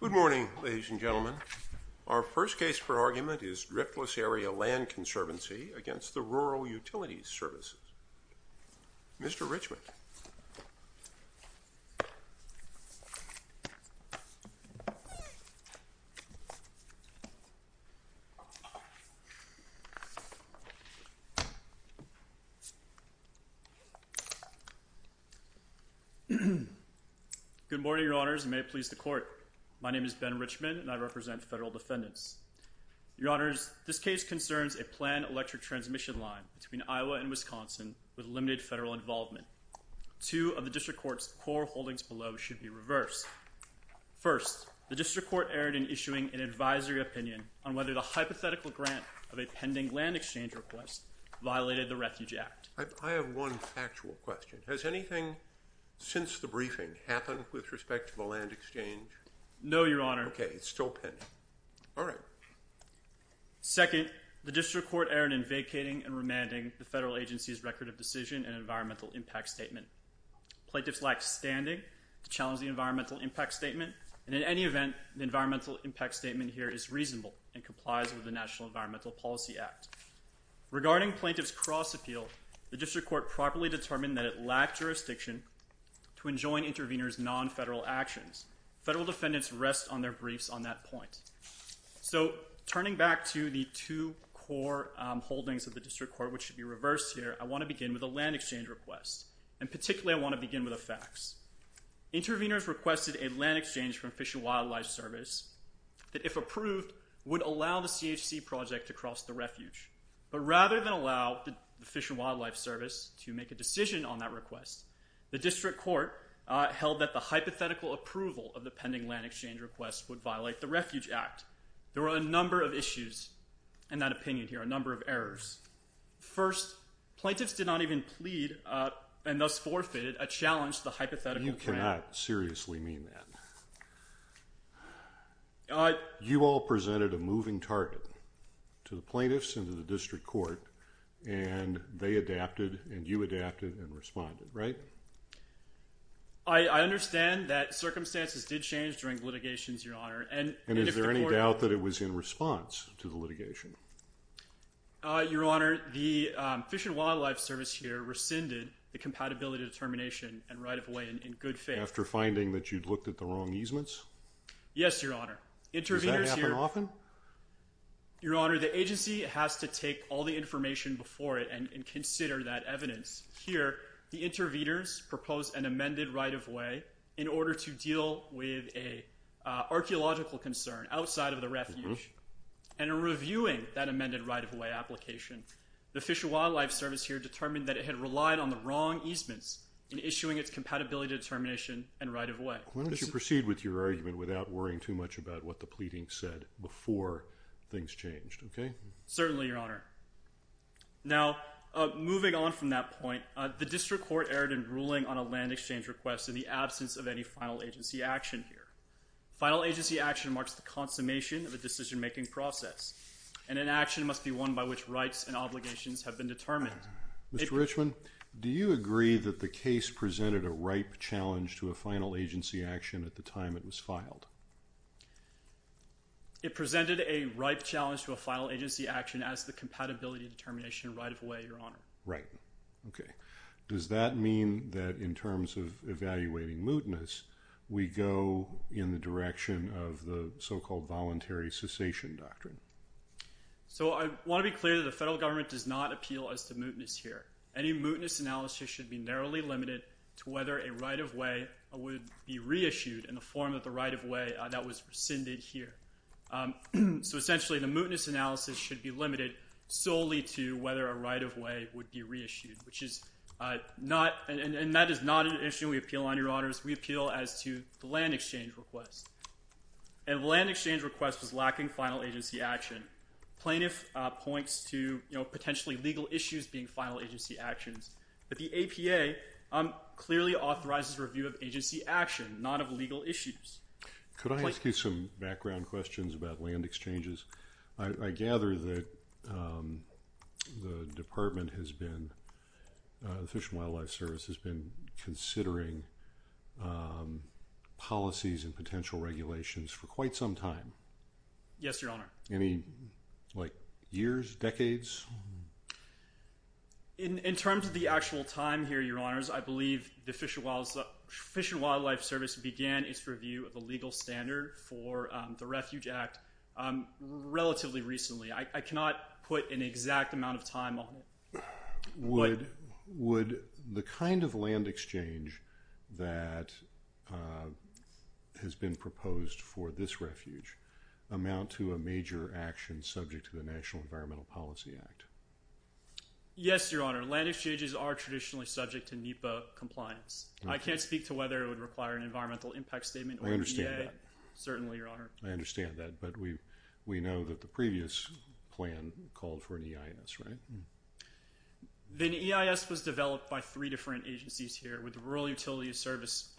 Good morning, ladies and gentlemen. Our first case for argument is Driftless Area Land Conservancy v. Rural Utilities Services. Mr. Richmond. Good morning, Your Honors, and may it please the Court. My name is Ben Richmond, and I represent federal defendants. Your Honors, this case concerns a planned electric transmission line between Iowa and Wisconsin with limited federal involvement. Two of the District Court's core holdings below should be reversed. First, the District Court erred in issuing an advisory opinion on whether the hypothetical grant of a pending land exchange request violated the Refuge Act. I have one factual question. Has anything since the briefing happened with respect to the land exchange? No, Your Honor. Okay, it's still pending. All right. Second, the District Court erred in vacating and remanding the federal agency's Record of Decision and Environmental Impact Statement. Plaintiffs lack standing to challenge the Environmental Impact Statement, and in any event, the Environmental Impact Statement here is reasonable and complies with the National Environmental Policy Act. Regarding plaintiff's cross-appeal, the District Court properly determined that it lacked jurisdiction to enjoin intervenors' non-federal actions. Federal defendants rest on their briefs on that point. So turning back to the two core holdings of the District Court which should be reversed here, I want to begin with a land exchange request, and particularly I want to begin with a fax. Intervenors requested a land exchange from Fish and Wildlife Service that, if approved, would allow the CHC project to cross the Refuge. But rather than allow the Fish and Wildlife Service to make a decision on that request, the District Court held that the hypothetical approval of the pending land exchange request would violate the Refuge Act. There were a number of issues in that opinion here, a number of errors. First, plaintiffs did not even plead and thus forfeited a challenge to the hypothetical grant. You cannot seriously mean that. You all presented a moving target to the plaintiffs and to the District Court, and they adapted, and you adapted and responded, right? I understand that circumstances did change during litigations, Your Honor. And is there any doubt that it was in response to the litigation? Your Honor, the Fish and Wildlife Service here rescinded the compatibility determination and right-of-way in good faith. After finding that you'd looked at the wrong easements? Yes, Your Honor. Does that happen often? Your Honor, the agency has to take all the information before it and consider that evidence. Here, the interviewers proposed an amended right-of-way in order to deal with an archaeological concern outside of the refuge, and in reviewing that amended right-of-way application, the Fish and Wildlife Service here determined that it had relied on the wrong easements in issuing its compatibility determination and right-of-way. Why don't you proceed with your argument without worrying too much about what the pleading said before things changed, okay? Certainly, Your Honor. Now, moving on from that point, the district court erred in ruling on a land exchange request in the absence of any final agency action here. Final agency action marks the consummation of a decision-making process, and an action must be one by which rights and obligations have been determined. Mr. Richman, do you agree that the case presented a ripe challenge to a final agency action at the time it was filed? It presented a ripe challenge to a final agency action as the compatibility determination and right-of-way, Your Honor. Right. Okay. Does that mean that in terms of evaluating mootness, we go in the direction of the so-called voluntary cessation doctrine? So, I want to be clear that the federal government does not appeal as to mootness here. Any mootness analysis should be narrowly limited to whether a right-of-way would be reissued in the form of the right-of-way that was rescinded here. So, essentially, the mootness analysis should be limited solely to whether a right-of-way would be reissued, which is not – and that is not an issue we appeal on, Your Honors. We appeal as to the land exchange request, and the land exchange request was lacking final agency action. Plaintiff points to potentially legal issues being final agency actions, but the APA clearly authorizes review of agency action, not of legal issues. Could I ask you some background questions about land exchanges? I gather that the Department has been – the Fish and Wildlife Service has been considering policies and potential regulations for quite some time. Yes, Your Honor. Any, like, years, decades? In terms of the actual time here, Your Honors, I believe the Fish and Wildlife Service began its review of a legal standard for the Refuge Act relatively recently. I cannot put an exact amount of time on it. Would the kind of land exchange that has been proposed for this refuge amount to a major action subject to the National Environmental Policy Act? Yes, Your Honor. Land exchanges are traditionally subject to NEPA compliance. I can't speak to whether it would require an environmental impact statement or an EA. I understand that. Certainly, Your Honor. I understand that, but we know that the previous plan called for an EIS, right? The EIS was developed by three different agencies here, with the Rural Utilities Service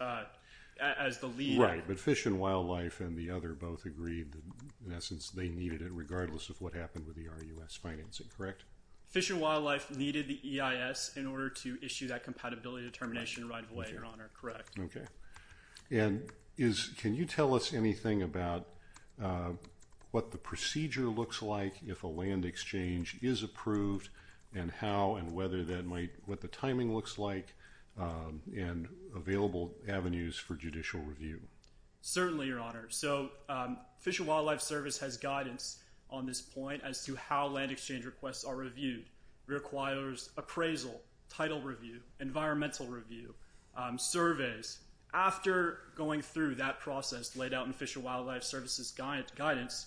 as the lead. Right, but Fish and Wildlife and the other both agreed that, in essence, they needed it regardless of what happened with the RUS financing, correct? Fish and Wildlife needed the EIS in order to issue that compatibility determination right away, Your Honor, correct. Can you tell us anything about what the procedure looks like if a land exchange is approved and what the timing looks like and available avenues for judicial review? Fish and Wildlife Service has guidance on this point as to how land exchange requests are reviewed. It requires appraisal, title review, environmental review, surveys. After going through that process laid out in Fish and Wildlife Service's guidance,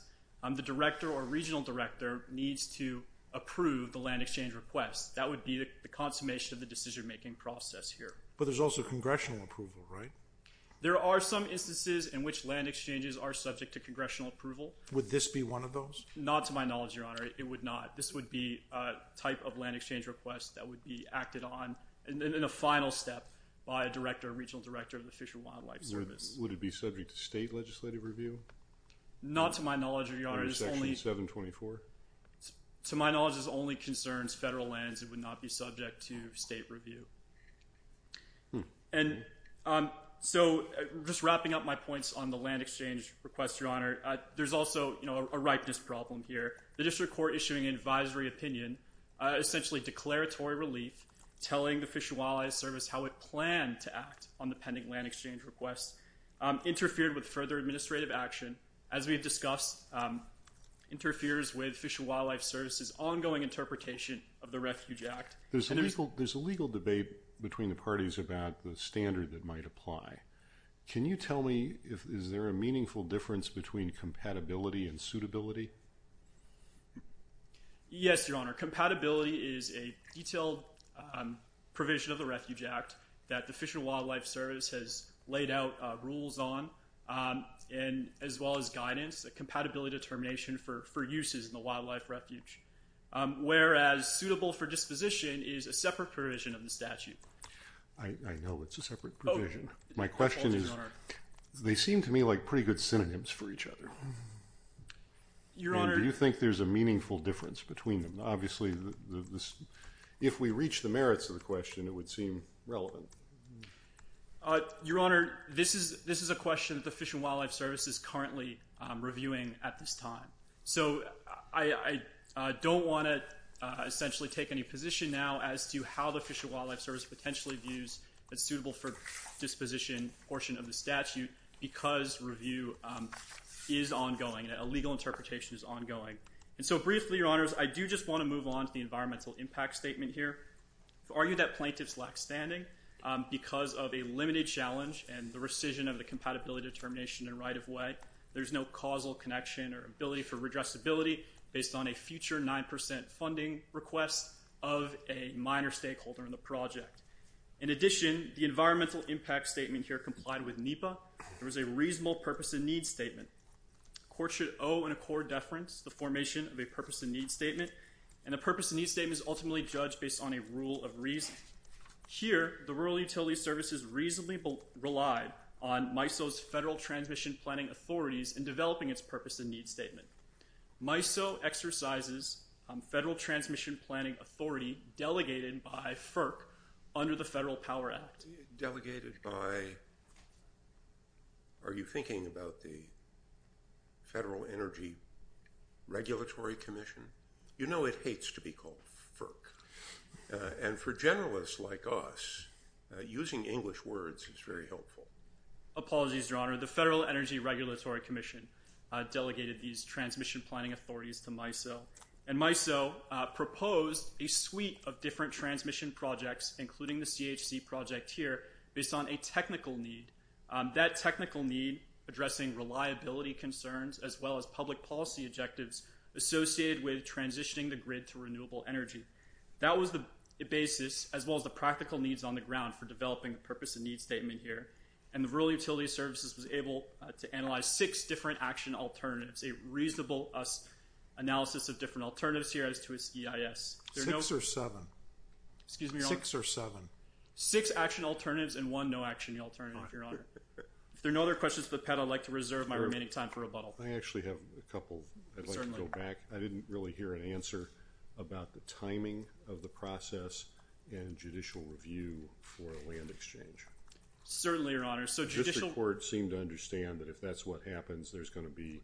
the director or regional director needs to approve the land exchange request. That would be the consummation of the decision-making process here. But there's also congressional approval, right? There are some instances in which land exchanges are subject to congressional approval. Would this be one of those? Not to my knowledge, Your Honor. It would not. This would be a type of land exchange request that would be acted on in a final step by a director or regional director of the Fish and Wildlife Service. Would it be subject to state legislative review? Not to my knowledge, Your Honor. Under Section 724? To my knowledge, this only concerns federal lands. It would not be subject to state review. And so just wrapping up my points on the land exchange request, Your Honor, there's also a ripeness problem here. The district court issuing an advisory opinion, essentially declaratory relief, telling the Fish and Wildlife Service how it planned to act on the pending land exchange request interfered with further administrative action. As we've discussed, interferes with Fish and Wildlife Service's ongoing interpretation of the Refuge Act. There's a legal debate between the parties about the standard that might apply. Can you tell me is there a meaningful difference between compatibility and suitability? Yes, Your Honor. Compatibility is a detailed provision of the Refuge Act that the Fish and Wildlife Service has laid out rules on, as well as guidance, a compatibility determination for uses in the wildlife refuge. Whereas suitable for disposition is a separate provision of the statute. I know it's a separate provision. My question is, they seem to me like pretty good synonyms for each other. Do you think there's a meaningful difference between them? Obviously, if we reach the merits of the question, it would seem relevant. Your Honor, this is a question that the Fish and Wildlife Service is currently reviewing at this time. So I don't want to essentially take any position now as to how the Fish and Wildlife Service potentially views a suitable for disposition portion of the statute because review is ongoing. A legal interpretation is ongoing. And so briefly, Your Honors, I do just want to move on to the environmental impact statement here. I've argued that plaintiffs lack standing because of a limited challenge and the rescission of the compatibility determination in right of way. There's no causal connection or ability for redressability based on a future 9% funding request of a minor stakeholder in the project. In addition, the environmental impact statement here complied with NEPA. There was a reasonable purpose and need statement. Court should owe an accord deference the formation of a purpose and need statement. And the purpose and need statement is ultimately judged based on a rule of reason. Here, the Rural Utility Services reasonably relied on MISO's Federal Transmission Planning Authorities in developing its purpose and need statement. MISO exercises Federal Transmission Planning Authority delegated by FERC under the Federal Power Act. Delegated by, are you thinking about the Federal Energy Regulatory Commission? You know it hates to be called FERC. And for generalists like us, using English words is very helpful. Apologies, Your Honor. The Federal Energy Regulatory Commission delegated these transmission planning authorities to MISO. And MISO proposed a suite of different transmission projects, including the CHC project here, based on a technical need. That technical need addressing reliability concerns as well as public policy objectives associated with transitioning the grid to renewable energy. That was the basis as well as the practical needs on the ground for developing a purpose and need statement here. And the Rural Utility Services was able to analyze six different action alternatives. A reasonable analysis of different alternatives here as to its EIS. Six or seven? Excuse me, Your Honor. Six or seven? Six action alternatives and one no action alternative, Your Honor. If there are no other questions for the panel, I'd like to reserve my remaining time for rebuttal. I actually have a couple. Certainly. I'd like to go back. I didn't really hear an answer about the timing of the process and judicial review for a land exchange. Certainly, Your Honor. Just the court seemed to understand that if that's what happens, there's going to be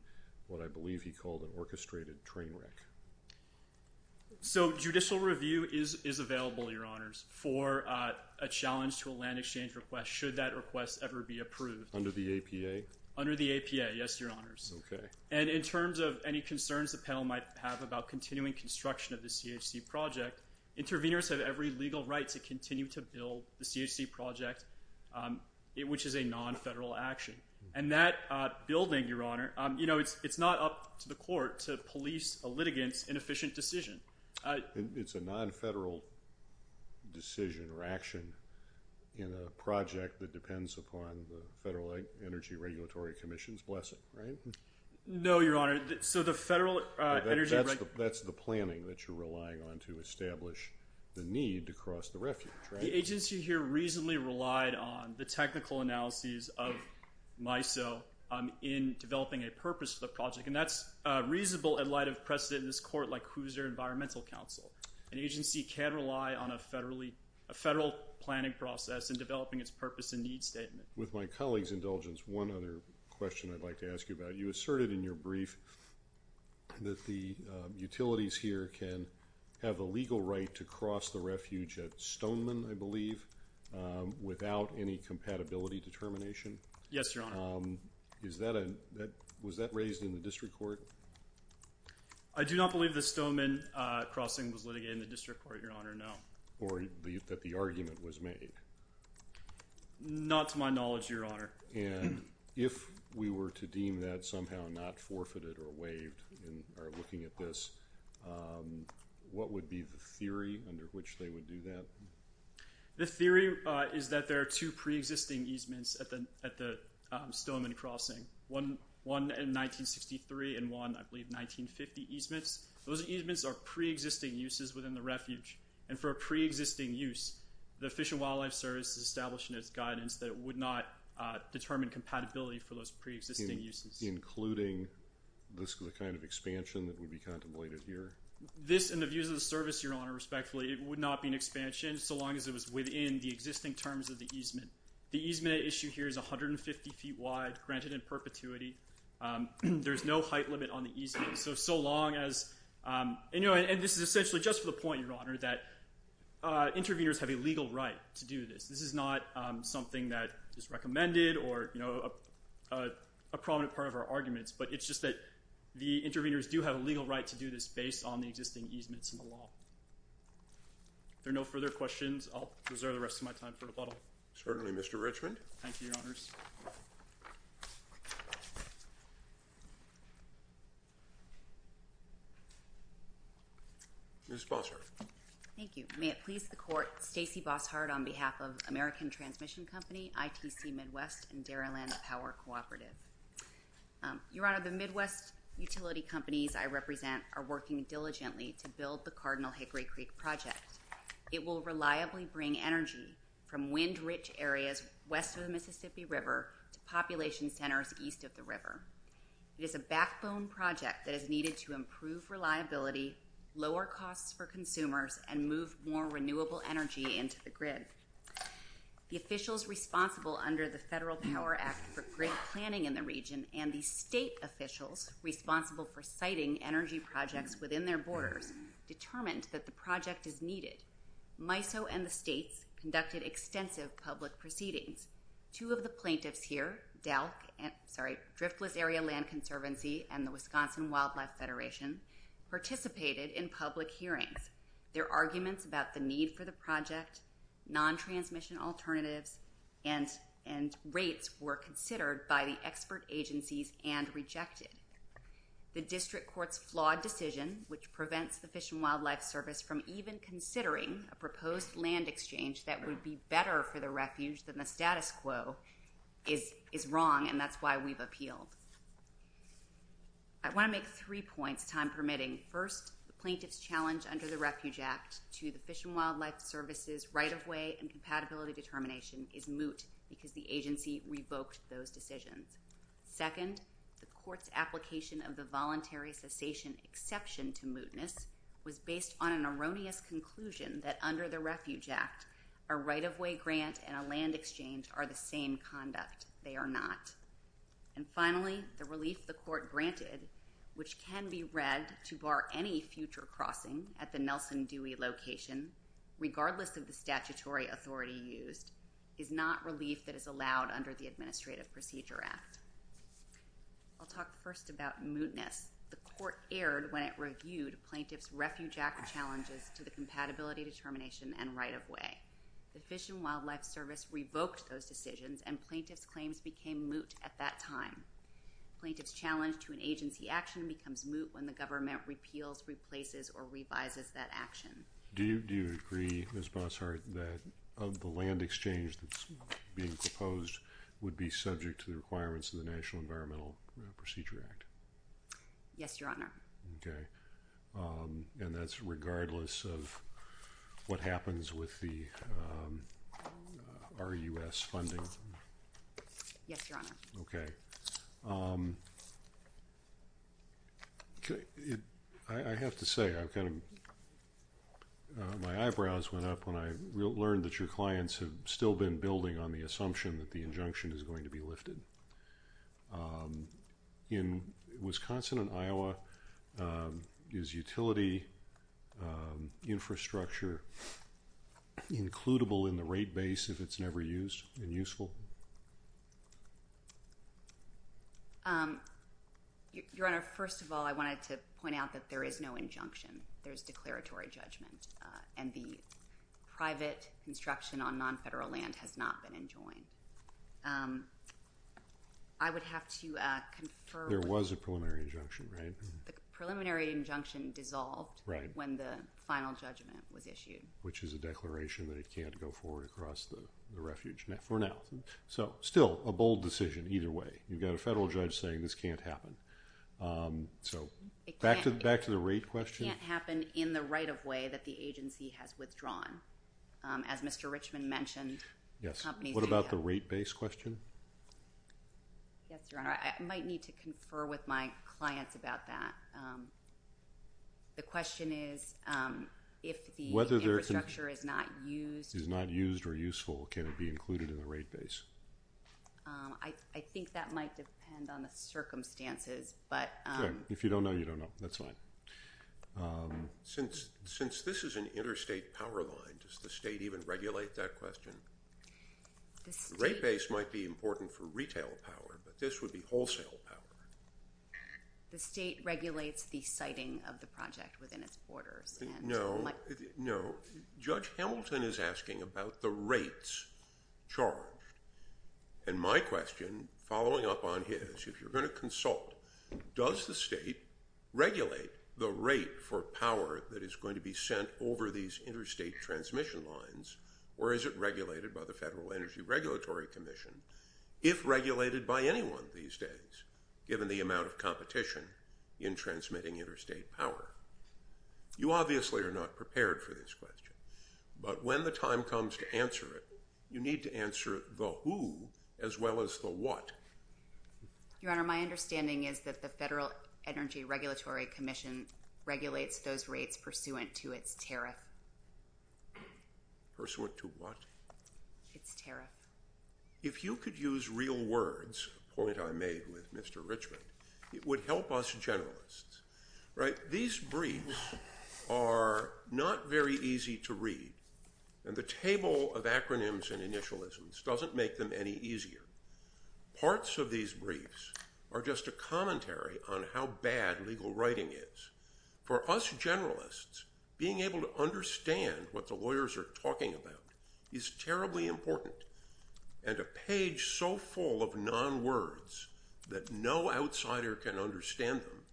what I believe he called an orchestrated train wreck. So judicial review is available, Your Honors, for a challenge to a land exchange request should that request ever be approved. Under the APA? Under the APA, yes, Your Honors. Okay. And in terms of any concerns the panel might have about continuing construction of the CHC project, interveners have every legal right to continue to build the CHC project, which is a non-federal action. And that building, Your Honor, you know, it's not up to the court to police a litigant's inefficient decision. It's a non-federal decision or action in a project that depends upon the Federal Energy Regulatory Commission's blessing, right? No, Your Honor. So the Federal Energy… That's the planning that you're relying on to establish the need to cross the refuge, right? The agency here reasonably relied on the technical analyses of MISO in developing a purpose for the project, and that's reasonable in light of precedent in this court like Hoosier Environmental Council. An agency can rely on a federal planning process in developing its purpose and need statement. With my colleague's indulgence, one other question I'd like to ask you about. You asserted in your brief that the utilities here can have a legal right to cross the refuge at Stoneman, I believe, without any compatibility determination. Yes, Your Honor. Was that raised in the district court? I do not believe the Stoneman crossing was litigated in the district court, Your Honor, no. Or that the argument was made? Not to my knowledge, Your Honor. And if we were to deem that somehow not forfeited or waived in our looking at this, what would be the theory under which they would do that? The theory is that there are two preexisting easements at the Stoneman crossing, one in 1963 and one, I believe, 1950 easements. Those easements are preexisting uses within the refuge, and for a preexisting use, the Fish and Wildlife Service has established in its guidance that it would not determine compatibility for those preexisting uses. Including the kind of expansion that would be contemplated here? This, in the views of the service, Your Honor, respectfully, it would not be an expansion so long as it was within the existing terms of the easement. The easement at issue here is 150 feet wide, granted in perpetuity. There is no height limit on the easement. And this is essentially just for the point, Your Honor, that interveners have a legal right to do this. This is not something that is recommended or a prominent part of our arguments, but it's just that the interveners do have a legal right to do this based on the existing easements in the law. If there are no further questions, I'll reserve the rest of my time for rebuttal. Thank you, Your Honors. Ms. Bossart. Thank you. May it please the Court, Stacey Bossart on behalf of American Transmission Company, ITC Midwest, and Daryland Power Cooperative. Your Honor, the Midwest utility companies I represent are working diligently to build the Cardinal Hickory Creek project. It will reliably bring energy from wind-rich areas west of the Mississippi River to population centers east of the river. It is a backbone project that is needed to improve reliability, lower costs for consumers, and move more renewable energy into the grid. The officials responsible under the Federal Power Act for grid planning in the region and the state officials responsible for siting energy projects within their borders determined that the project is needed. MISO and the states conducted extensive public proceedings. Two of the plaintiffs here, DELC, sorry, Driftless Area Land Conservancy and the Wisconsin Wildlife Federation, participated in public hearings. Their arguments about the need for the project, non-transmission alternatives, and rates were considered by the expert agencies and rejected. The district court's flawed decision, which prevents the Fish and Wildlife Service from even considering a proposed land exchange that would be better for the refuge than the status quo, is wrong, and that's why we've appealed. I want to make three points, time permitting. First, the plaintiff's challenge under the Refuge Act to the Fish and Wildlife Service's right-of-way and compatibility determination is moot because the agency revoked those decisions. Second, the court's application of the voluntary cessation exception to mootness was based on an erroneous conclusion that under the Refuge Act, a right-of-way grant and a land exchange are the same conduct. They are not. And finally, the relief the court granted, which can be read to bar any future crossing at the Nelson Dewey location, regardless of the statutory authority used, is not relief that is allowed under the Administrative Procedure Act. I'll talk first about mootness. The court erred when it reviewed plaintiff's Refuge Act challenges to the compatibility determination and right-of-way. The Fish and Wildlife Service revoked those decisions, and plaintiff's claims became moot at that time. Plaintiff's challenge to an agency action becomes moot when the government repeals, replaces, or revises that action. Do you agree, Ms. Bossart, that the land exchange that's being proposed would be subject to the requirements of the National Environmental Procedure Act? Yes, Your Honor. Okay. And that's regardless of what happens with the RUS funding? Yes, Your Honor. Okay. I have to say, my eyebrows went up when I learned that your clients have still been building on the assumption that the injunction is going to be lifted. In Wisconsin and Iowa, is utility infrastructure includable in the rate base if it's never used and useful? Your Honor, first of all, I wanted to point out that there is no injunction. There's declaratory judgment, and the private construction on non-federal land has not been enjoined. I would have to confer. There was a preliminary injunction, right? The preliminary injunction dissolved when the final judgment was issued. Which is a declaration that it can't go forward across the refuge for now. So, still, a bold decision either way. You've got a federal judge saying this can't happen. So, back to the rate question. It can't happen in the right-of-way that the agency has withdrawn. As Mr. Richman mentioned, companies do that. Yes. What about the rate base question? Yes, Your Honor. I might need to confer with my clients about that. The question is, if the infrastructure is not used or useful, can it be included in the rate base? I think that might depend on the circumstances. If you don't know, you don't know. That's fine. Since this is an interstate power line, does the state even regulate that question? The rate base might be important for retail power, but this would be wholesale power. The state regulates the siting of the project within its borders. No. No. Judge Hamilton is asking about the rates charged. And my question, following up on his, if you're going to consult, does the state regulate the rate for power that is going to be sent over these interstate transmission lines? Or is it regulated by the Federal Energy Regulatory Commission? If regulated by anyone these days, given the amount of competition in transmitting interstate power. You obviously are not prepared for this question. But when the time comes to answer it, you need to answer the who as well as the what. Your Honor, my understanding is that the Federal Energy Regulatory Commission regulates those rates pursuant to its tariff. Its tariff. If you could use real words, a point I made with Mr. Richmond, it would help us generalists. These briefs are not very easy to read. And the table of acronyms and initialisms doesn't make them any easier. Parts of these briefs are just a commentary on how bad legal writing is. For us generalists, being able to understand what the lawyers are talking about is terribly important. And a page so full of non-words that no outsider can understand them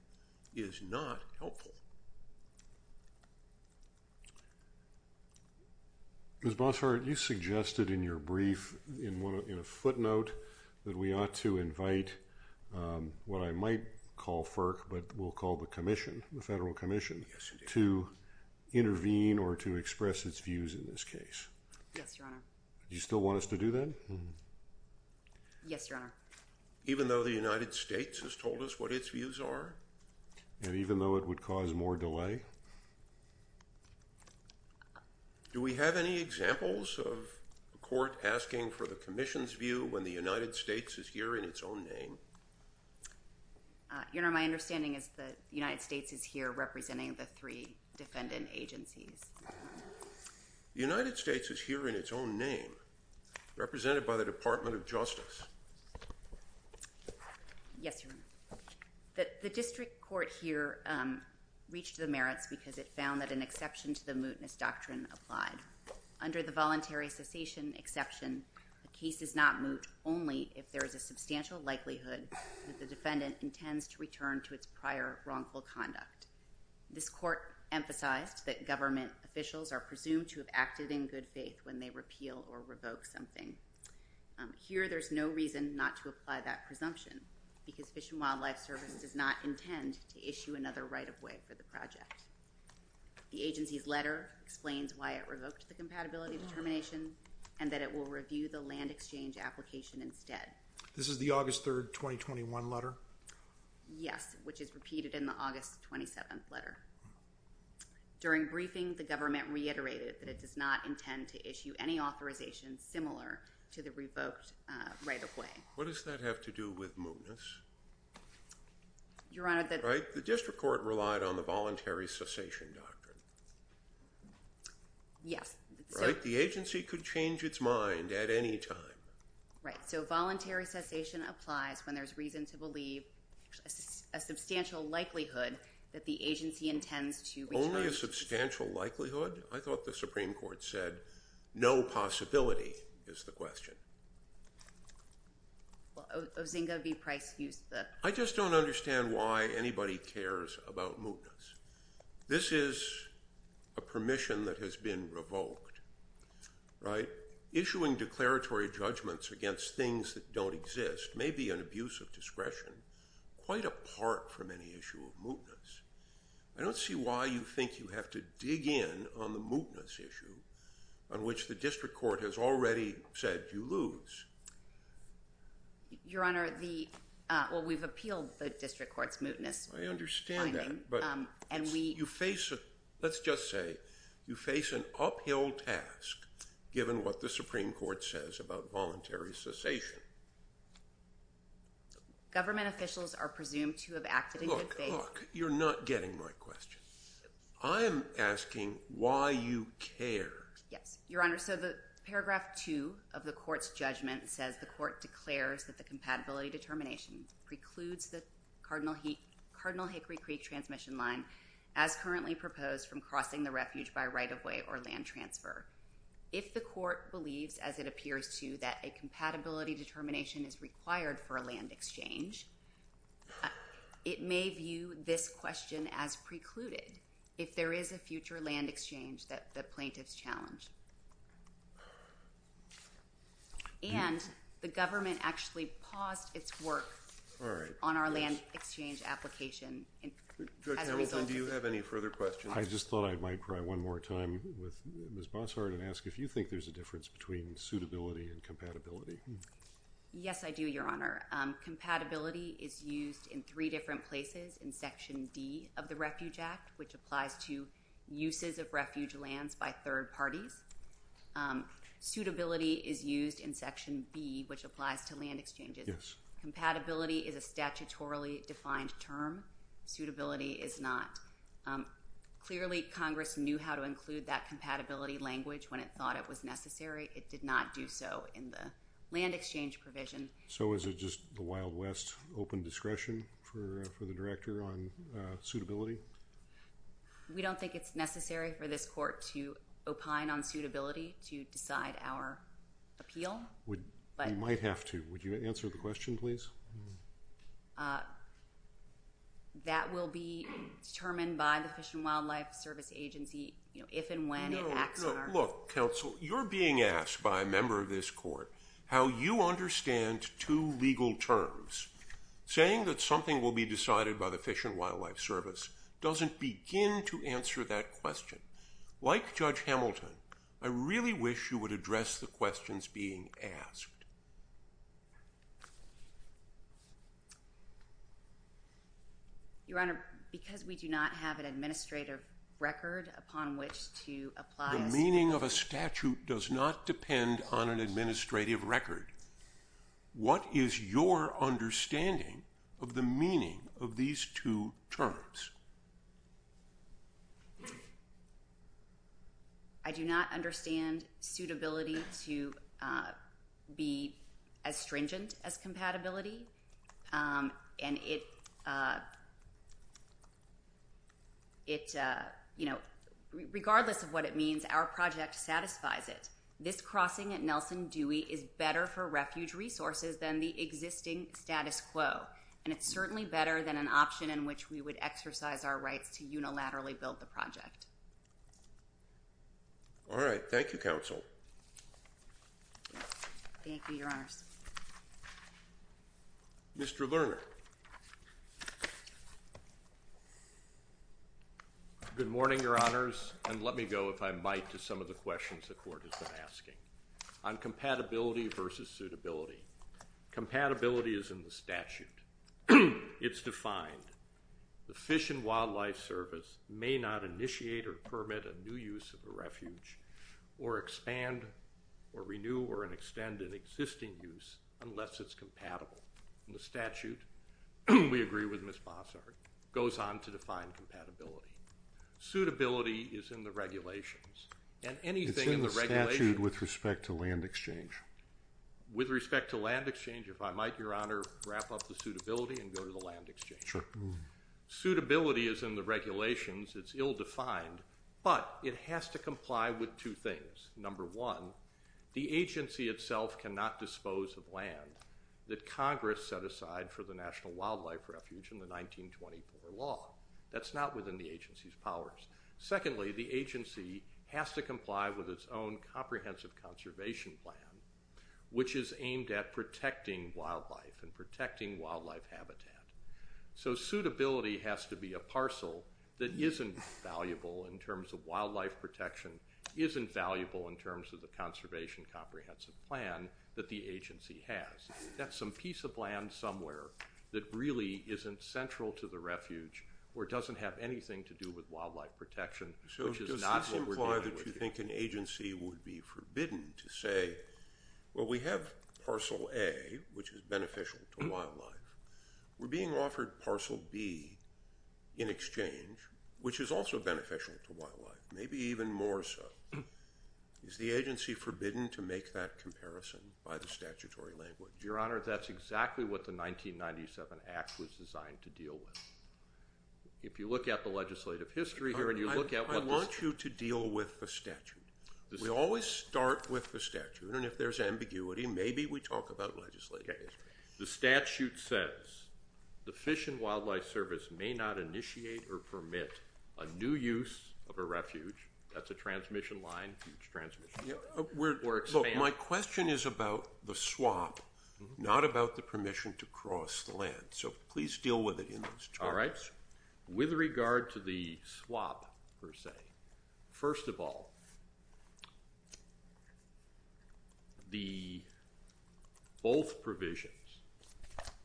is not helpful. Ms. Bossert, you suggested in your brief, in a footnote, that we ought to invite what I might call FERC, but we'll call the commission, the Federal Commission, to intervene or to express its views in this case. Yes, Your Honor. Do you still want us to do that? Yes, Your Honor. Even though the United States has told us what its views are? And even though it would cause more delay? Do we have any examples of a court asking for the commission's view when the United States is here in its own name? Your Honor, my understanding is that the United States is here representing the three defendant agencies. The United States is here in its own name, represented by the Department of Justice. Yes, Your Honor. The district court here reached the merits because it found that an exception to the mootness doctrine applied. Under the voluntary cessation exception, a case is not moot only if there is a substantial likelihood that the defendant intends to return to its prior wrongful conduct. This court emphasized that government officials are presumed to have acted in good faith when they repeal or revoke something. Here, there's no reason not to apply that presumption because Fish and Wildlife Service does not intend to issue another right-of-way for the project. The agency's letter explains why it revoked the compatibility determination and that it will review the land exchange application instead. This is the August 3rd, 2021 letter? Yes, which is repeated in the August 27th letter. During briefing, the government reiterated that it does not intend to issue any authorization similar to the revoked right-of-way. What does that have to do with mootness? Your Honor, the... Right? The district court relied on the voluntary cessation doctrine. Yes. Right? The agency could change its mind at any time. Right. So voluntary cessation applies when there's reason to believe a substantial likelihood that the agency intends to return... Only a substantial likelihood? I thought the Supreme Court said no possibility is the question. Well, Ozinga v. Price used the... I just don't understand why anybody cares about mootness. This is a permission that has been revoked, right? Issuing declaratory judgments against things that don't exist may be an abuse of discretion quite apart from any issue of mootness. I don't see why you think you have to dig in on the mootness issue on which the district court has already said you lose. Your Honor, the... Well, we've appealed the district court's mootness... I understand that, but... And we... You face a... Let's just say you face an uphill task given what the Supreme Court says about voluntary cessation. Government officials are presumed to have acted in good faith... You're not getting my question. I'm asking why you care. Yes. Your Honor, so the paragraph 2 of the court's judgment says the court declares that the compatibility determination precludes the Cardinal Hickory Creek transmission line as currently proposed from crossing the refuge by right-of-way or land transfer. If the court believes, as it appears to, that a compatibility determination is required for a land exchange, it may view this question as precluded if there is a future land exchange that the plaintiffs challenge. And the government actually paused its work on our land exchange application as a result... Judge Hamilton, do you have any further questions? I just thought I might try one more time with Ms. Bossart and ask if you think there's a difference between suitability and compatibility. Yes, I do, Your Honor. Compatibility is used in three different places in Section D of the Refuge Act, which applies to uses of refuge lands by third parties. Suitability is used in Section B, which applies to land exchanges. Yes. Compatibility is a statutorily defined term. Suitability is not. Clearly, Congress knew how to include that compatibility language when it thought it was necessary. It did not do so in the land exchange provision. So is it just the Wild West, open discretion for the Director on suitability? We don't think it's necessary for this court to opine on suitability to decide our appeal. You might have to. Would you answer the question, please? That will be determined by the Fish and Wildlife Service Agency if and when it acts in our favor. Look, counsel, you're being asked by a member of this court how you understand two legal terms. Saying that something will be decided by the Fish and Wildlife Service doesn't begin to answer that question. Like Judge Hamilton, I really wish you would address the questions being asked. Your Honor, because we do not have an administrative record upon which to apply a statute... The meaning of a statute does not depend on an administrative record. What is your understanding of the meaning of these two terms? I do not understand suitability to be as stringent as compatibility. Regardless of what it means, our project satisfies it. This crossing at Nelson Dewey is better for refuge resources than the existing status quo. And it's certainly better than an option in which we would exercise our rights to unilaterally build the project. All right. Thank you, counsel. Thank you, Your Honors. Mr. Lerner. Good morning, Your Honors. And let me go, if I might, to some of the questions the court has been asking on compatibility versus suitability. Compatibility is in the statute. It's defined. The Fish and Wildlife Service may not initiate or permit a new use of a refuge, or expand or renew or extend an existing use unless it's compatible. The statute, we agree with Ms. Bossart, goes on to define compatibility. Suitability is in the regulations. It's in the statute with respect to land exchange. With respect to land exchange, if I might, Your Honor, wrap up the suitability and go to the land exchange. Sure. Suitability is in the regulations. It's ill-defined, but it has to comply with two things. Number one, the agency itself cannot dispose of land that Congress set aside for the National Wildlife Refuge in the 1924 law. That's not within the agency's powers. Secondly, the agency has to comply with its own comprehensive conservation plan, which is aimed at protecting wildlife and protecting wildlife habitat. So suitability has to be a parcel that isn't valuable in terms of wildlife protection, isn't valuable in terms of the conservation comprehensive plan that the agency has. That's some piece of land somewhere that really isn't central to the refuge or doesn't have anything to do with wildlife protection, which is not what we're dealing with here. So does this imply that you think an agency would be forbidden to say, well, we have parcel A, which is beneficial to wildlife. We're being offered parcel B in exchange, which is also beneficial to wildlife, maybe even more so. Is the agency forbidden to make that comparison by the statutory language? Your Honor, that's exactly what the 1997 Act was designed to deal with. If you look at the legislative history here and you look at what this— I want you to deal with the statute. We always start with the statute, and if there's ambiguity, maybe we talk about legislative history. The statute says the Fish and Wildlife Service may not initiate or permit a new use of a refuge. That's a transmission line, huge transmission line. My question is about the swap, not about the permission to cross the land. So please deal with it in those terms. All right. With regard to the swap, per se, first of all, both provisions,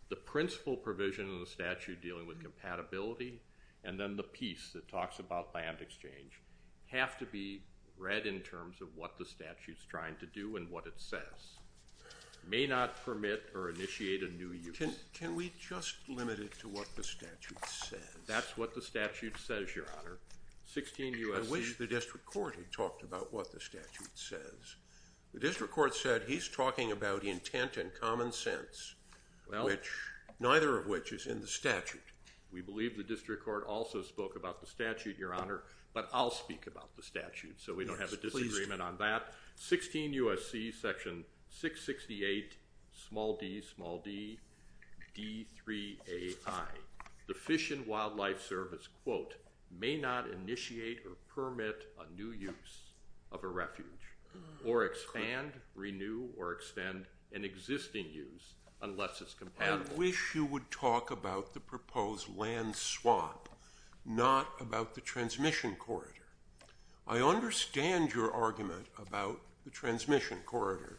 the principal provision in the statute dealing with compatibility and then the piece that talks about land exchange, have to be read in terms of what the statute's trying to do and what it says. May not permit or initiate a new use. Can we just limit it to what the statute says? That's what the statute says, Your Honor. I wish the district court had talked about what the statute says. The district court said he's talking about intent and common sense, neither of which is in the statute. We believe the district court also spoke about the statute, Your Honor, but I'll speak about the statute so we don't have a disagreement on that. Section 668 small d, small d, D3AI. The Fish and Wildlife Service, quote, may not initiate or permit a new use of a refuge or expand, renew, or extend an existing use unless it's compatible. I wish you would talk about the proposed land swap, not about the transmission corridor. I understand your argument about the transmission corridor.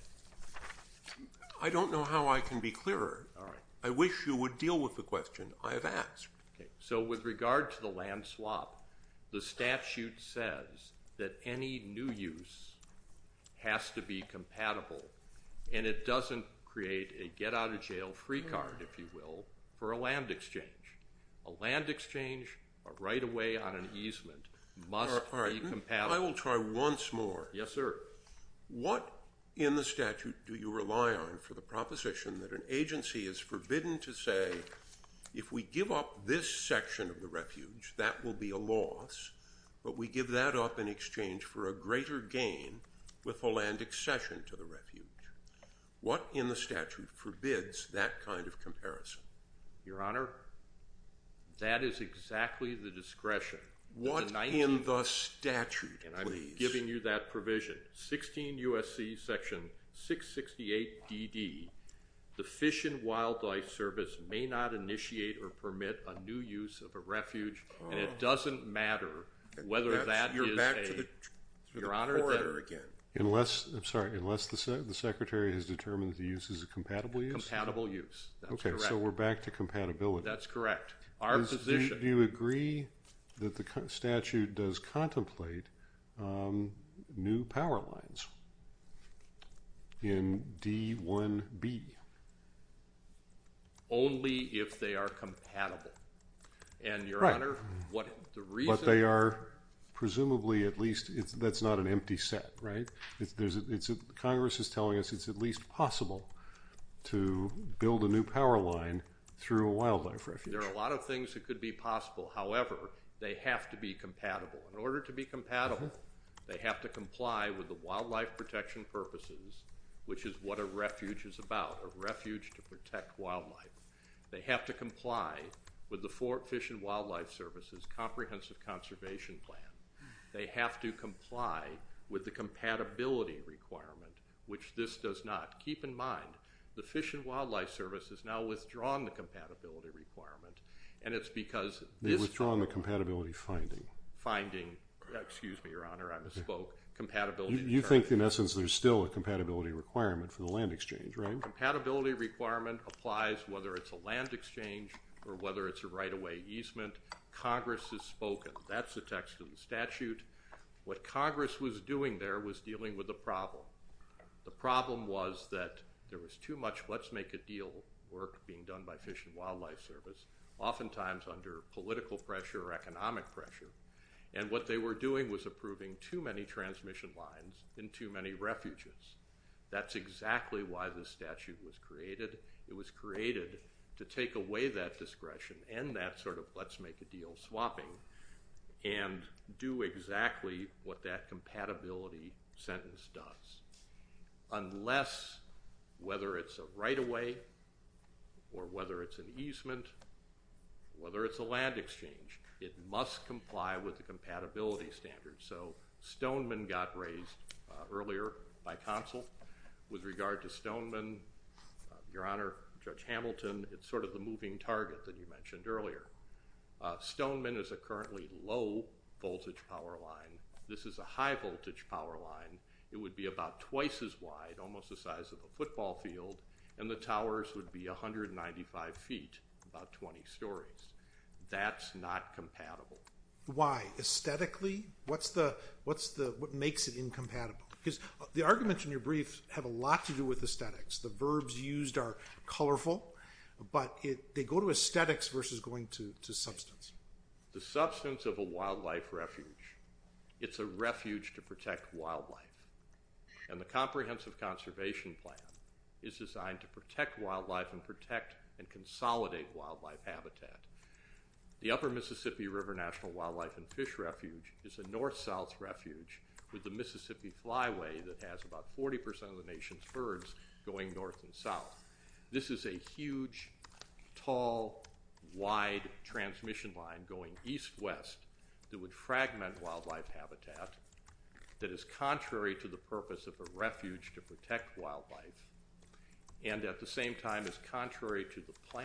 I don't know how I can be clearer. I wish you would deal with the question I have asked. So with regard to the land swap, the statute says that any new use has to be compatible and it doesn't create a get-out-of-jail-free card, if you will, for a land exchange. A land exchange, a right-of-way on an easement must be compatible. All right. I will try once more. Yes, sir. What in the statute do you rely on for the proposition that an agency is forbidden to say, if we give up this section of the refuge, that will be a loss, but we give that up in exchange for a greater gain with a land accession to the refuge? What in the statute forbids that kind of comparison? Your Honor, that is exactly the discretion. What in the statute, please? And I'm giving you that provision. 16 U.S.C. section 668DD, the Fish and Wildlife Service may not initiate or permit a new use of a refuge, and it doesn't matter whether that is a— You're back to the corridor again. I'm sorry. Unless the Secretary has determined the use is a compatible use? Compatible use. That's correct. Okay. So we're back to compatibility. That's correct. Our position— Do you agree that the statute does contemplate new power lines in D-1B? Only if they are compatible. Right. And, Your Honor, what the reason— But they are presumably at least—that's not an empty set, right? Congress is telling us it's at least possible to build a new power line through a wildlife refuge. There are a lot of things that could be possible. However, they have to be compatible. In order to be compatible, they have to comply with the wildlife protection purposes, which is what a refuge is about, a refuge to protect wildlife. They have to comply with the Fish and Wildlife Service's comprehensive conservation plan. They have to comply with the compatibility requirement, which this does not. Keep in mind, the Fish and Wildlife Service has now withdrawn the compatibility requirement, and it's because this— They've withdrawn the compatibility finding. Finding—excuse me, Your Honor, I misspoke. You think, in essence, there's still a compatibility requirement for the land exchange, right? The compatibility requirement applies whether it's a land exchange or whether it's a right-of-way easement. Congress has spoken. That's the text of the statute. What Congress was doing there was dealing with a problem. The problem was that there was too much let's-make-a-deal work being done by Fish and Wildlife Service, oftentimes under political pressure or economic pressure, and what they were doing was approving too many transmission lines and too many refuges. That's exactly why this statute was created. It was created to take away that discretion and that sort of let's-make-a-deal swapping and do exactly what that compatibility sentence does. Unless, whether it's a right-of-way or whether it's an easement, whether it's a land exchange, it must comply with the compatibility standards. So Stoneman got raised earlier by counsel. With regard to Stoneman, Your Honor, Judge Hamilton, it's sort of the moving target that you mentioned earlier. Stoneman is a currently low-voltage power line. This is a high-voltage power line. It would be about twice as wide, almost the size of a football field, and the towers would be 195 feet, about 20 stories. That's not compatible. Why? Aesthetically, what makes it incompatible? Because the arguments in your brief have a lot to do with aesthetics. The verbs used are colorful, but they go to aesthetics versus going to substance. The substance of a wildlife refuge, it's a refuge to protect wildlife, and the comprehensive conservation plan is designed to protect wildlife and protect and consolidate wildlife habitat. The Upper Mississippi River National Wildlife and Fish Refuge is a north-south refuge with a Mississippi flyway that has about 40 percent of the nation's birds going north and south. This is a huge, tall, wide transmission line going east-west that would fragment wildlife habitat that is contrary to the purpose of a refuge to protect wildlife and at the same time is contrary to the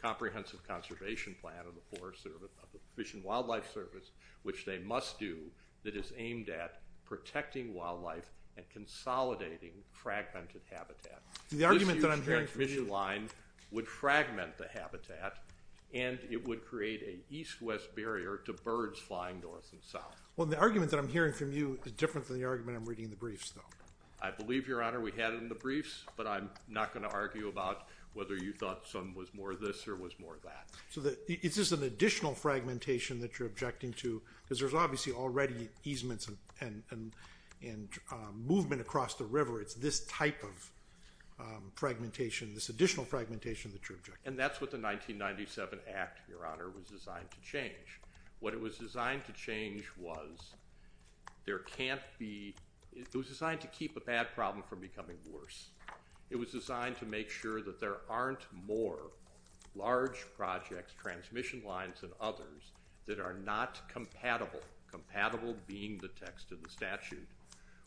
comprehensive conservation plan of the Fish and Wildlife Service, which they must do, that is aimed at protecting wildlife and consolidating fragmented habitat. This huge transmission line would fragment the habitat, and it would create an east-west barrier to birds flying north and south. The argument that I'm hearing from you is different than the argument I'm reading in the briefs, though. I believe, Your Honor, we had it in the briefs, but I'm not going to argue about whether you thought some was more this or was more that. It's just an additional fragmentation that you're objecting to, because there's obviously already easements and movement across the river. It's this type of fragmentation, this additional fragmentation that you're objecting to. And that's what the 1997 Act, Your Honor, was designed to change. What it was designed to change was there can't beóit was designed to keep a bad problem from becoming worse. It was designed to make sure that there aren't more large projects, transmission lines and others that are not compatibleócompatible being the text of the statuteó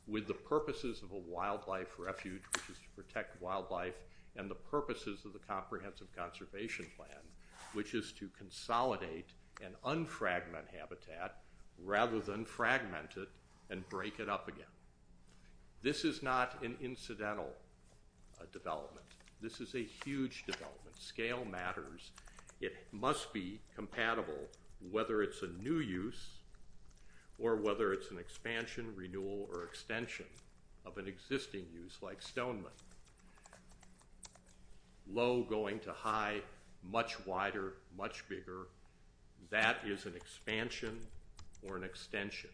with the purposes of a wildlife refuge, which is to protect wildlife, and the purposes of the comprehensive conservation plan, which is to consolidate and unfragment habitat rather than fragment it and break it up again. This is not an incidental development. This is a huge development. Scale matters. It must be compatible, whether it's a new use or whether it's an expansion, renewal, or extension of an existing use like Stoneman. Low going to high, much wider, much biggeróthat is an expansion or an extension.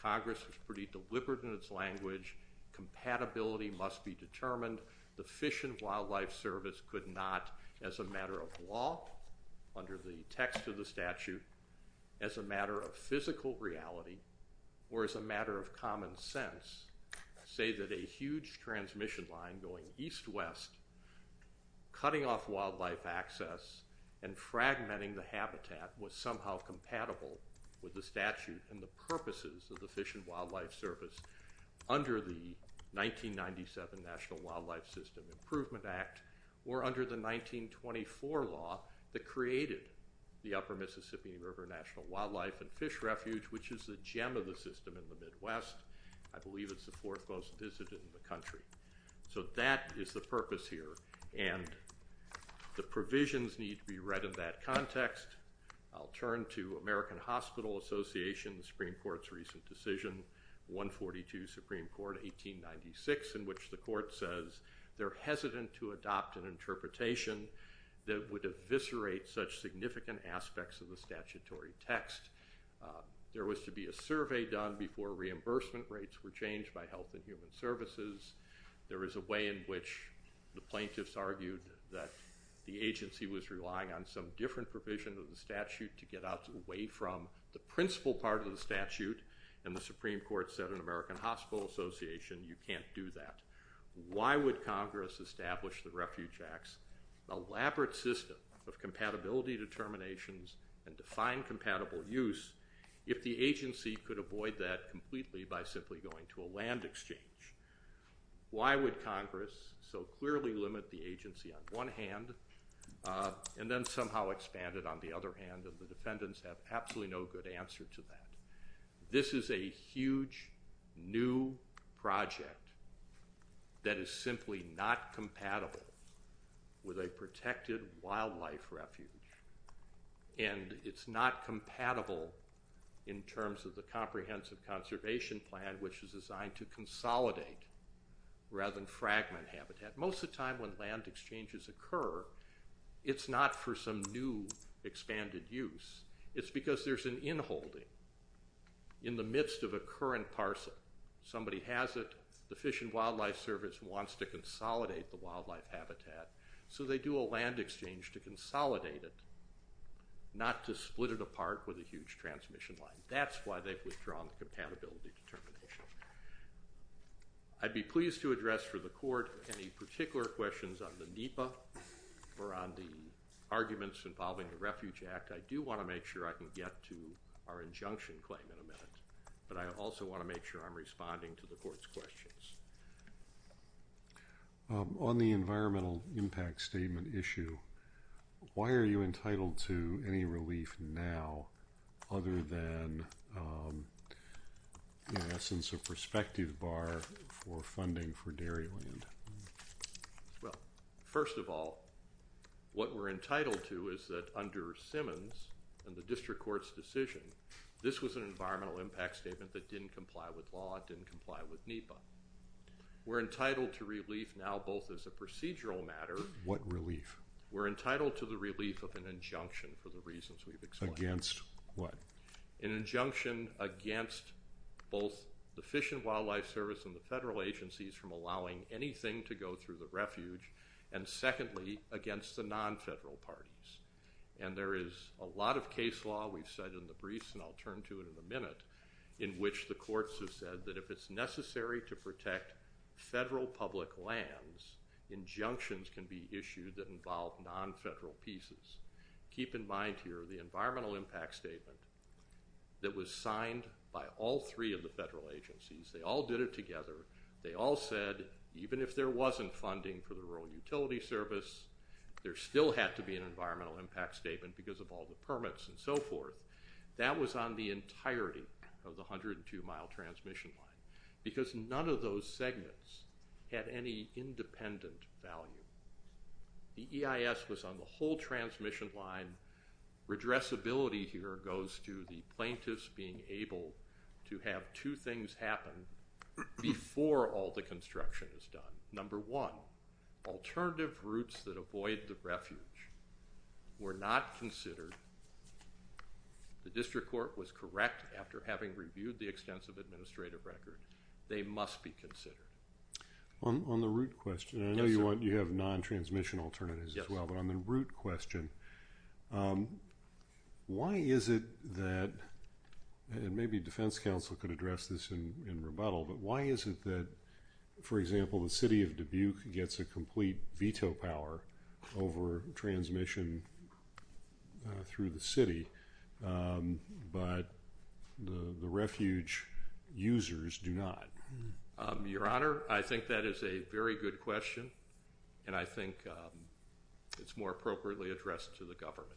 Congress was pretty deliberate in its language. Compatibility must be determined. The Fish and Wildlife Service could not, as a matter of law, under the text of the statute, as a matter of physical reality or as a matter of common sense, say that a huge transmission line going east-west, cutting off wildlife access and fragmenting the habitat was somehow compatible with the statute and the purposes of the Fish and Wildlife Service under the 1997 National Wildlife System Improvement Act or under the 1924 law that created the Upper Mississippi River National Wildlife and Fish Refuge, which is the gem of the system in the Midwest. I believe it's the fourth most visited in the country. So that is the purpose here, and the provisions need to be read in that context. I'll turn to American Hospital Association, the Supreme Court's recent decision, 142 Supreme Court, 1896, in which the court says they're hesitant to adopt an interpretation that would eviscerate such significant aspects of the statutory text. There was to be a survey done before reimbursement rates were changed by Health and Human Services. There is a way in which the plaintiffs argued that the agency was relying on some different provision of the statute to get out away from the principal part of the statute, and the Supreme Court said in American Hospital Association, you can't do that. Why would Congress establish the Refuge Act's elaborate system of compatibility determinations and define compatible use if the agency could avoid that completely by simply going to a land exchange? Why would Congress so clearly limit the agency on one hand and then somehow expand it on the other hand, and the defendants have absolutely no good answer to that? This is a huge new project that is simply not compatible with a protected wildlife refuge, and it's not compatible in terms of the comprehensive conservation plan, which is designed to consolidate rather than fragment habitat. Most of the time when land exchanges occur, it's not for some new expanded use. It's because there's an in-holding in the midst of a current parcel. Somebody has it, the Fish and Wildlife Service wants to consolidate the wildlife habitat, so they do a land exchange to consolidate it, not to split it apart with a huge transmission line. That's why they've withdrawn the compatibility determination. I'd be pleased to address for the Court any particular questions on the NEPA or on the arguments involving the Refuge Act. I do want to make sure I can get to our injunction claim in a minute, but I also want to make sure I'm responding to the Court's questions. On the environmental impact statement issue, why are you entitled to any relief now other than, in essence, a prospective bar for funding for dairy land? First of all, what we're entitled to is that under Simmons and the District Court's decision, this was an environmental impact statement that didn't comply with law, it didn't comply with NEPA. We're entitled to relief now both as a procedural matter. What relief? We're entitled to the relief of an injunction for the reasons we've explained. Against what? An injunction against both the Fish and Wildlife Service and the federal agencies from allowing anything to go through the refuge, and secondly, against the non-federal parties. And there is a lot of case law, we've said in the briefs and I'll turn to it in a minute, in which the courts have said that if it's necessary to protect federal public lands, injunctions can be issued that involve non-federal pieces. Keep in mind here the environmental impact statement that was signed by all three of the federal agencies. They all did it together. They all said even if there wasn't funding for the Rural Utility Service, there still had to be an environmental impact statement because of all the permits and so forth. That was on the entirety of the 102-mile transmission line because none of those segments had any independent value. The EIS was on the whole transmission line. Redressability here goes to the plaintiffs being able to have two things happen before all the construction is done. Number one, alternative routes that avoid the refuge were not considered. The district court was correct after having reviewed the extensive administrative record. They must be considered. On the route question, I know you have non-transmission alternatives as well, but on the route question, why is it that, and maybe defense counsel could address this in rebuttal, but why is it that, for example, the city of Dubuque gets a complete veto power over transmission through the city, but the refuge users do not? Your Honor, I think that is a very good question, and I think it's more appropriately addressed to the government.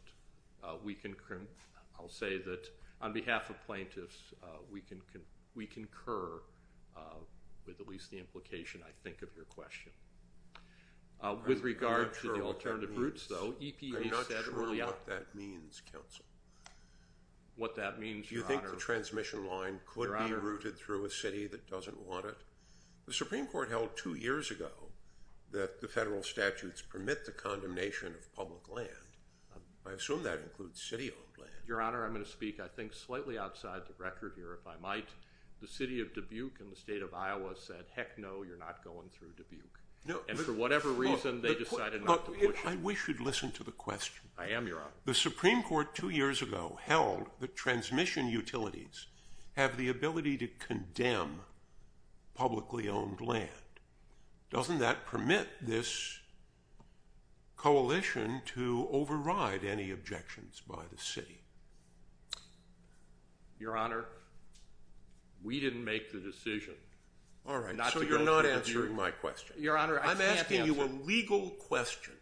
I'll say that on behalf of plaintiffs, we concur with at least the implication, I think, of your question. With regard to the alternative routes, though, EPA said early on. I'm not sure what that means, counsel. What that means, Your Honor? Do you think the transmission line could be routed through a city that doesn't want it? The Supreme Court held two years ago that the federal statutes permit the condemnation of public land. I assume that includes city-owned land. Your Honor, I'm going to speak, I think, slightly outside the record here, if I might. The city of Dubuque in the state of Iowa said, heck no, you're not going through Dubuque, and for whatever reason they decided not to push it. I wish you'd listen to the question. I am, Your Honor. The Supreme Court two years ago held that transmission utilities have the ability to condemn publicly owned land. Doesn't that permit this coalition to override any objections by the city? Your Honor, we didn't make the decision. All right, so you're not answering my question. Your Honor, I can't answer. I'm asking you a legal question.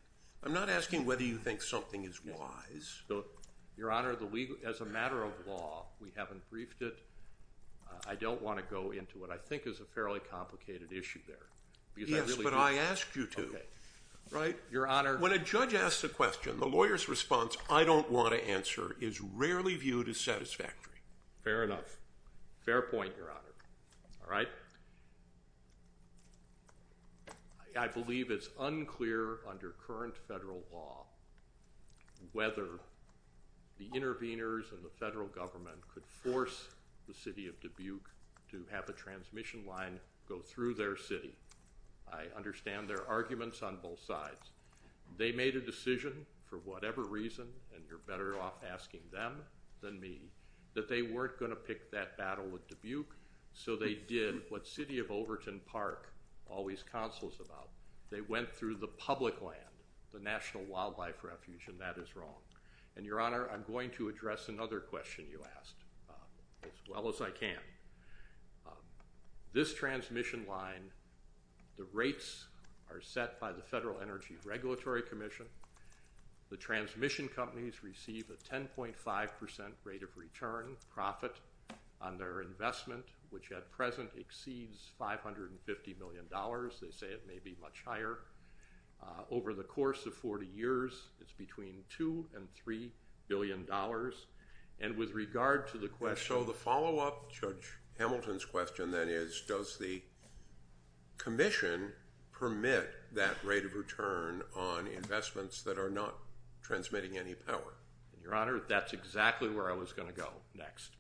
I'm not asking whether you think something is wise. Your Honor, as a matter of law, we haven't briefed it. I don't want to go into it. I think it's a fairly complicated issue there. Yes, but I asked you to. Right? Your Honor. Your Honor, when a judge asks a question, the lawyer's response, I don't want to answer, is rarely viewed as satisfactory. Fair enough. Fair point, Your Honor. All right? I believe it's unclear under current federal law whether the interveners and the federal government could force the city of Dubuque to have a transmission line go through their city. I understand there are arguments on both sides. They made a decision for whatever reason, and you're better off asking them than me, that they weren't going to pick that battle with Dubuque, so they did what city of Overton Park always counsels about. They went through the public land, the National Wildlife Refuge, and that is wrong. And, Your Honor, I'm going to address another question you asked as well as I can. This transmission line, the rates are set by the Federal Energy Regulatory Commission. The transmission companies receive a 10.5% rate of return profit on their investment, which at present exceeds $550 million. They say it may be much higher. Over the course of 40 years, it's between $2 and $3 billion. And so the follow-up to Judge Hamilton's question then is, does the commission permit that rate of return on investments that are not transmitting any power? And, Your Honor, that's exactly where I was going to go next.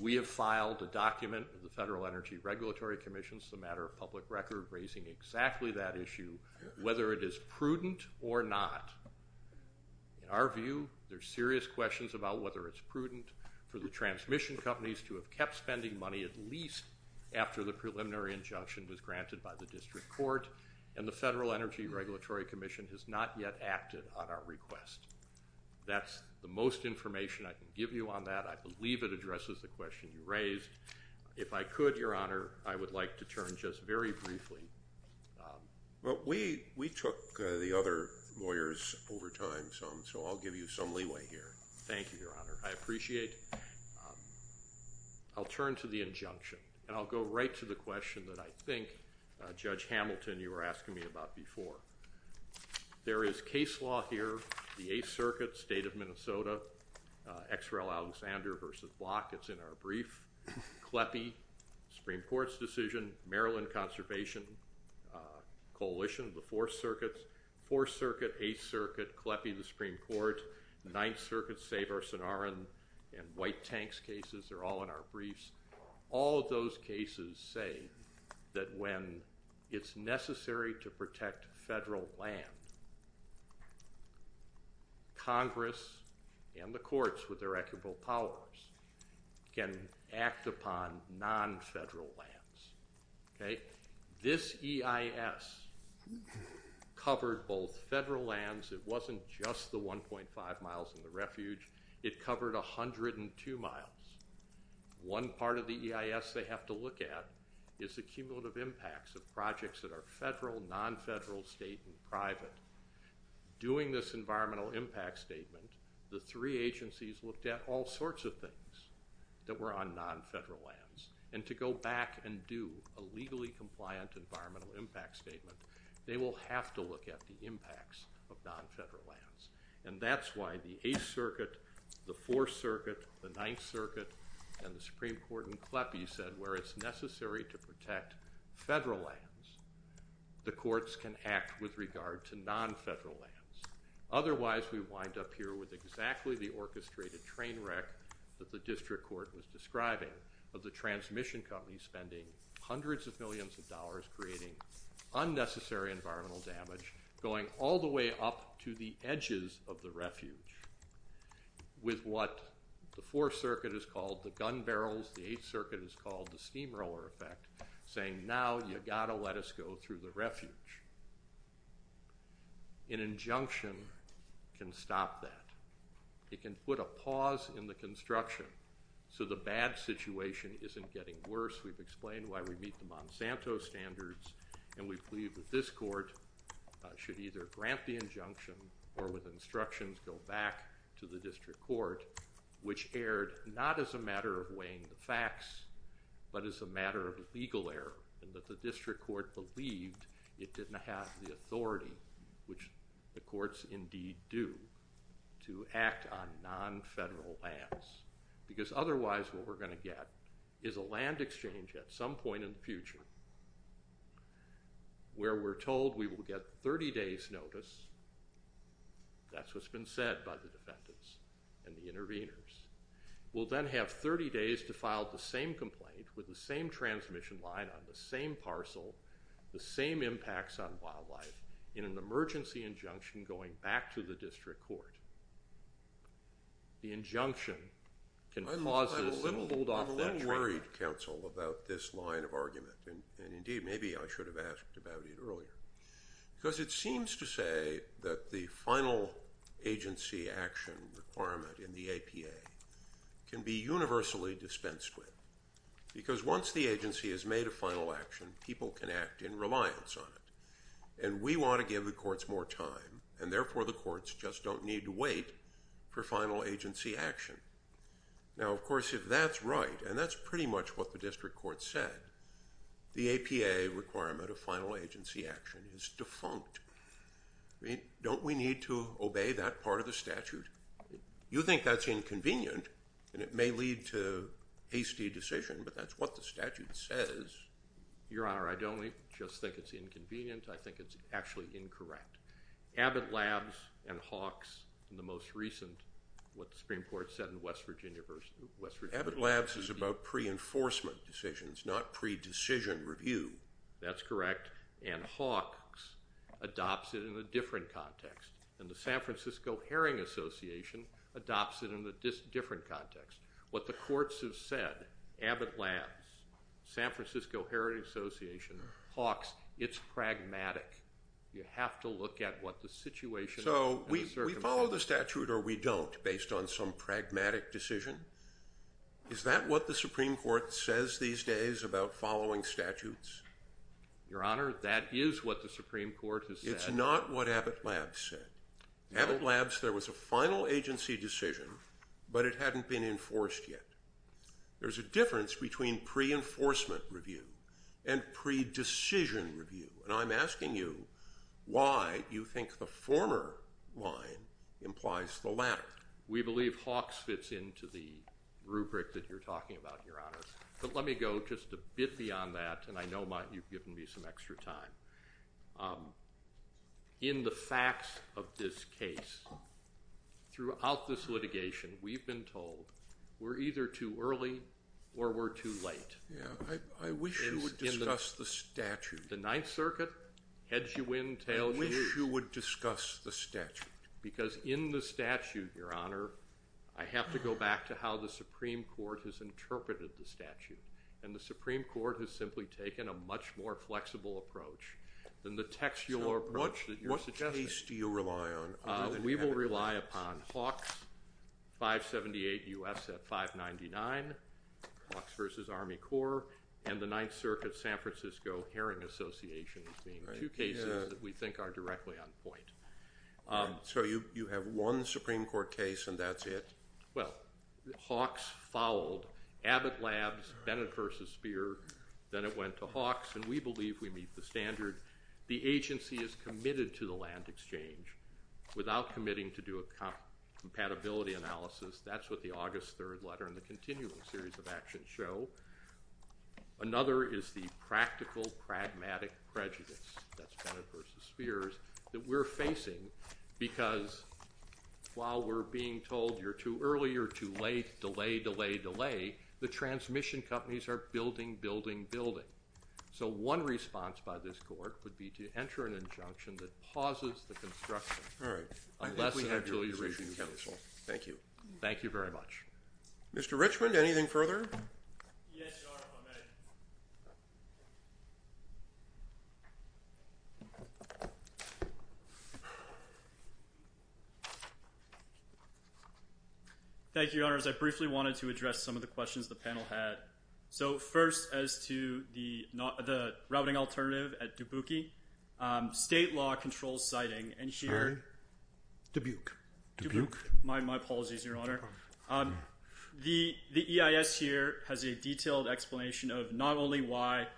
We have filed a document with the Federal Energy Regulatory Commission as a matter of public record raising exactly that issue, whether it is prudent or not. In our view, there's serious questions about whether it's prudent for the transmission companies to have kept spending money at least after the preliminary injunction was granted by the district court. And the Federal Energy Regulatory Commission has not yet acted on our request. That's the most information I can give you on that. I believe it addresses the question you raised. If I could, Your Honor, I would like to turn just very briefly. Well, we took the other lawyers over time, so I'll give you some leeway here. Thank you, Your Honor. I appreciate it. I'll turn to the injunction, and I'll go right to the question that I think, Judge Hamilton, you were asking me about before. There is case law here, the Eighth Circuit, State of Minnesota, X. It's in our brief. CLEPI, Supreme Court's decision, Maryland Conservation Coalition, the Fourth Circuit, Fourth Circuit, Eighth Circuit, CLEPI, the Supreme Court, Ninth Circuit, Saverson-Aron, and White Tanks cases are all in our briefs. All of those cases say that when it's necessary to protect federal land, Congress and the courts with their equitable powers can act upon non-federal lands. Okay? This EIS covered both federal lands. It wasn't just the 1.5 miles and the refuge. It covered 102 miles. One part of the EIS they have to look at is the cumulative impacts of projects that are federal, non-federal, state, and private. Doing this environmental impact statement, the three agencies looked at all sorts of things that were on non-federal lands. And to go back and do a legally compliant environmental impact statement, they will have to look at the impacts of non-federal lands. And that's why the Eighth Circuit, the Fourth Circuit, the Ninth Circuit, and the Supreme Court and CLEPI said where it's necessary to protect federal lands, the courts can act with regard to non-federal lands. Otherwise, we wind up here with exactly the orchestrated train wreck that the district court was describing of the transmission companies spending hundreds of millions of dollars creating unnecessary environmental damage going all the way up to the edges of the refuge. With what the Fourth Circuit has called the gun barrels, the Eighth Circuit has called the steamroller effect, saying now you've got to let us go through the refuge. An injunction can stop that. It can put a pause in the construction so the bad situation isn't getting worse. We've explained why we meet the Monsanto standards, and we believe that this court should either grant the injunction or with instructions go back to the district court, which erred not as a matter of weighing the facts, but as a matter of legal error and that the district court believed it didn't have the authority, which the courts indeed do, to act on non-federal lands. Because otherwise what we're going to get is a land exchange at some point in the future where we're told we will get 30 days' notice. That's what's been said by the defendants and the interveners. We'll then have 30 days to file the same complaint with the same transmission line on the same parcel, the same impacts on wildlife, in an emergency injunction going back to the district court. The injunction can pause this and hold off that trial. I'm a little worried, counsel, about this line of argument, and indeed maybe I should have asked about it earlier. Because it seems to say that the final agency action requirement in the APA can be universally dispensed with. Because once the agency has made a final action, people can act in reliance on it. And we want to give the courts more time, and therefore the courts just don't need to wait for final agency action. Now, of course, if that's right, and that's pretty much what the district court said, the APA requirement of final agency action is defunct. Don't we need to obey that part of the statute? You think that's inconvenient, and it may lead to hasty decision, but that's what the statute says. Your Honor, I don't just think it's inconvenient. I think it's actually incorrect. Abbott Labs and Hawks in the most recent, what the Supreme Court said in West Virginia. Abbott Labs is about pre-enforcement decisions, not pre-decision review. That's correct. And Hawks adopts it in a different context. And the San Francisco Herring Association adopts it in a different context. What the courts have said, Abbott Labs, San Francisco Herring Association, Hawks, it's pragmatic. You have to look at what the situation is. So we follow the statute or we don't based on some pragmatic decision? Is that what the Supreme Court says these days about following statutes? Your Honor, that is what the Supreme Court has said. It's not what Abbott Labs said. Abbott Labs, there was a final agency decision, but it hadn't been enforced yet. There's a difference between pre-enforcement review and pre-decision review, and I'm asking you why you think the former line implies the latter. We believe Hawks fits into the rubric that you're talking about, Your Honor. But let me go just a bit beyond that, and I know you've given me some extra time. In the facts of this case, throughout this litigation, we've been told we're either too early or we're too late. I wish you would discuss the statute. The Ninth Circuit heads you in, tails you out. I wish you would discuss the statute. Because in the statute, Your Honor, I have to go back to how the Supreme Court has interpreted the statute, and the Supreme Court has simply taken a much more flexible approach than the textual approach that you're suggesting. So what case do you rely on other than Abbott Labs? We will rely upon Hawks, 578 U.S. at 599, Hawks v. Army Corps, and the Ninth Circuit San Francisco Hearing Association being two cases that we think are directly on point. So you have one Supreme Court case, and that's it? Well, Hawks fouled Abbott Labs, Bennett v. Speer. Then it went to Hawks, and we believe we meet the standard. The agency is committed to the land exchange without committing to do a compatibility analysis. That's what the August 3rd letter and the continuing series of actions show. Another is the practical pragmatic prejudice, that's Bennett v. Speers, that we're facing because while we're being told you're too early or too late, delay, delay, delay, the transmission companies are building, building, building. So one response by this court would be to enter an injunction that pauses the construction. All right. Unless and until you reach a conclusion. Thank you. Thank you very much. Mr. Richmond, anything further? Yes, Your Honor, if I may. Thank you, Your Honors. I briefly wanted to address some of the questions the panel had. So first as to the routing alternative at Dubuque, state law controls siting, and here- By Dubuque. Dubuque. My apologies, Your Honor. The EIS here has a detailed explanation of not only why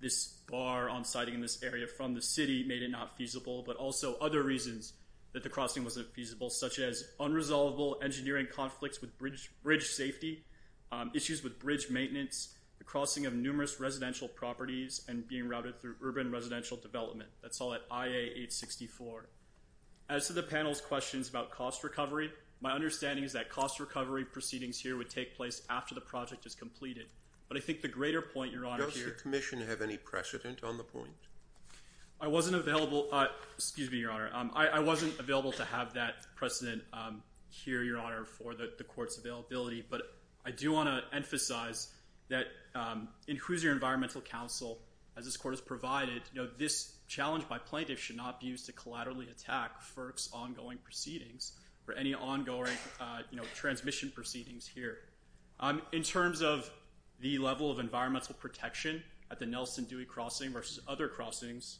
this bar on siting in this area from the city made it not feasible, but also other reasons that the crossing wasn't feasible, such as unresolvable engineering conflicts with bridge safety, issues with bridge maintenance, the crossing of numerous residential properties, and being routed through urban residential development. That's all at IA 864. As to the panel's questions about cost recovery, my understanding is that cost recovery proceedings here would take place after the project is completed. But I think the greater point, Your Honor, here- Does the commission have any precedent on the point? I wasn't available. Excuse me, Your Honor. I wasn't available to have that precedent here, Your Honor, for the court's availability. But I do want to emphasize that in Hoosier Environmental Council, as this court has provided, this challenge by plaintiffs should not be used to collaterally attack FERC's ongoing proceedings or any ongoing transmission proceedings here. In terms of the level of environmental protection at the Nelson Dewey Crossing versus other crossings,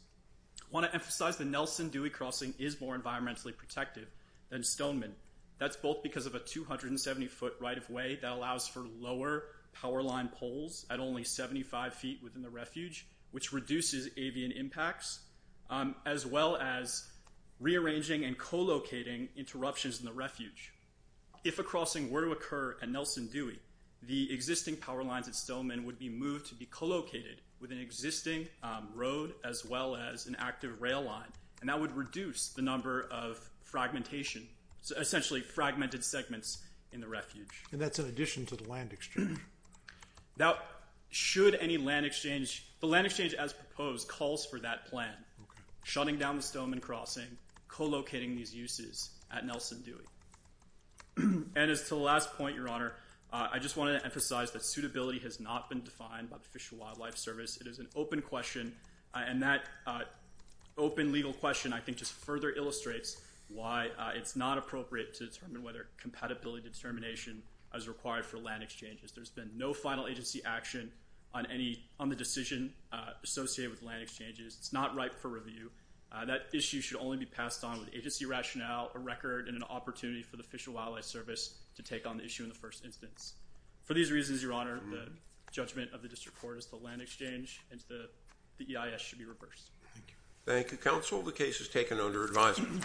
I want to emphasize the Nelson Dewey Crossing is more environmentally protective than Stoneman. That's both because of a 270-foot right-of-way that allows for lower power line poles at only 75 feet within the refuge, which reduces avian impacts, as well as rearranging and co-locating interruptions in the refuge. If a crossing were to occur at Nelson Dewey, the existing power lines at Stoneman would be moved to be co-located with an existing road as well as an active rail line, and that would reduce the number of fragmentation, essentially fragmented segments in the refuge. And that's in addition to the land exchange. Now, should any land exchange, the land exchange as proposed calls for that plan, shutting down the Stoneman Crossing, co-locating these uses at Nelson Dewey. And as to the last point, Your Honor, I just want to emphasize that suitability has not been defined by the Fish and Wildlife Service. It is an open question, and that open legal question, I think, just further illustrates why it's not appropriate to determine whether compatibility determination is required for land exchanges. There's been no final agency action on the decision associated with land exchanges. It's not ripe for review. That issue should only be passed on with agency rationale, a record, and an opportunity for the Fish and Wildlife Service to take on the issue in the first instance. For these reasons, Your Honor, the judgment of the district court is the land exchange and the EIS should be reversed. Thank you. Thank you, counsel. The case is taken under advisement.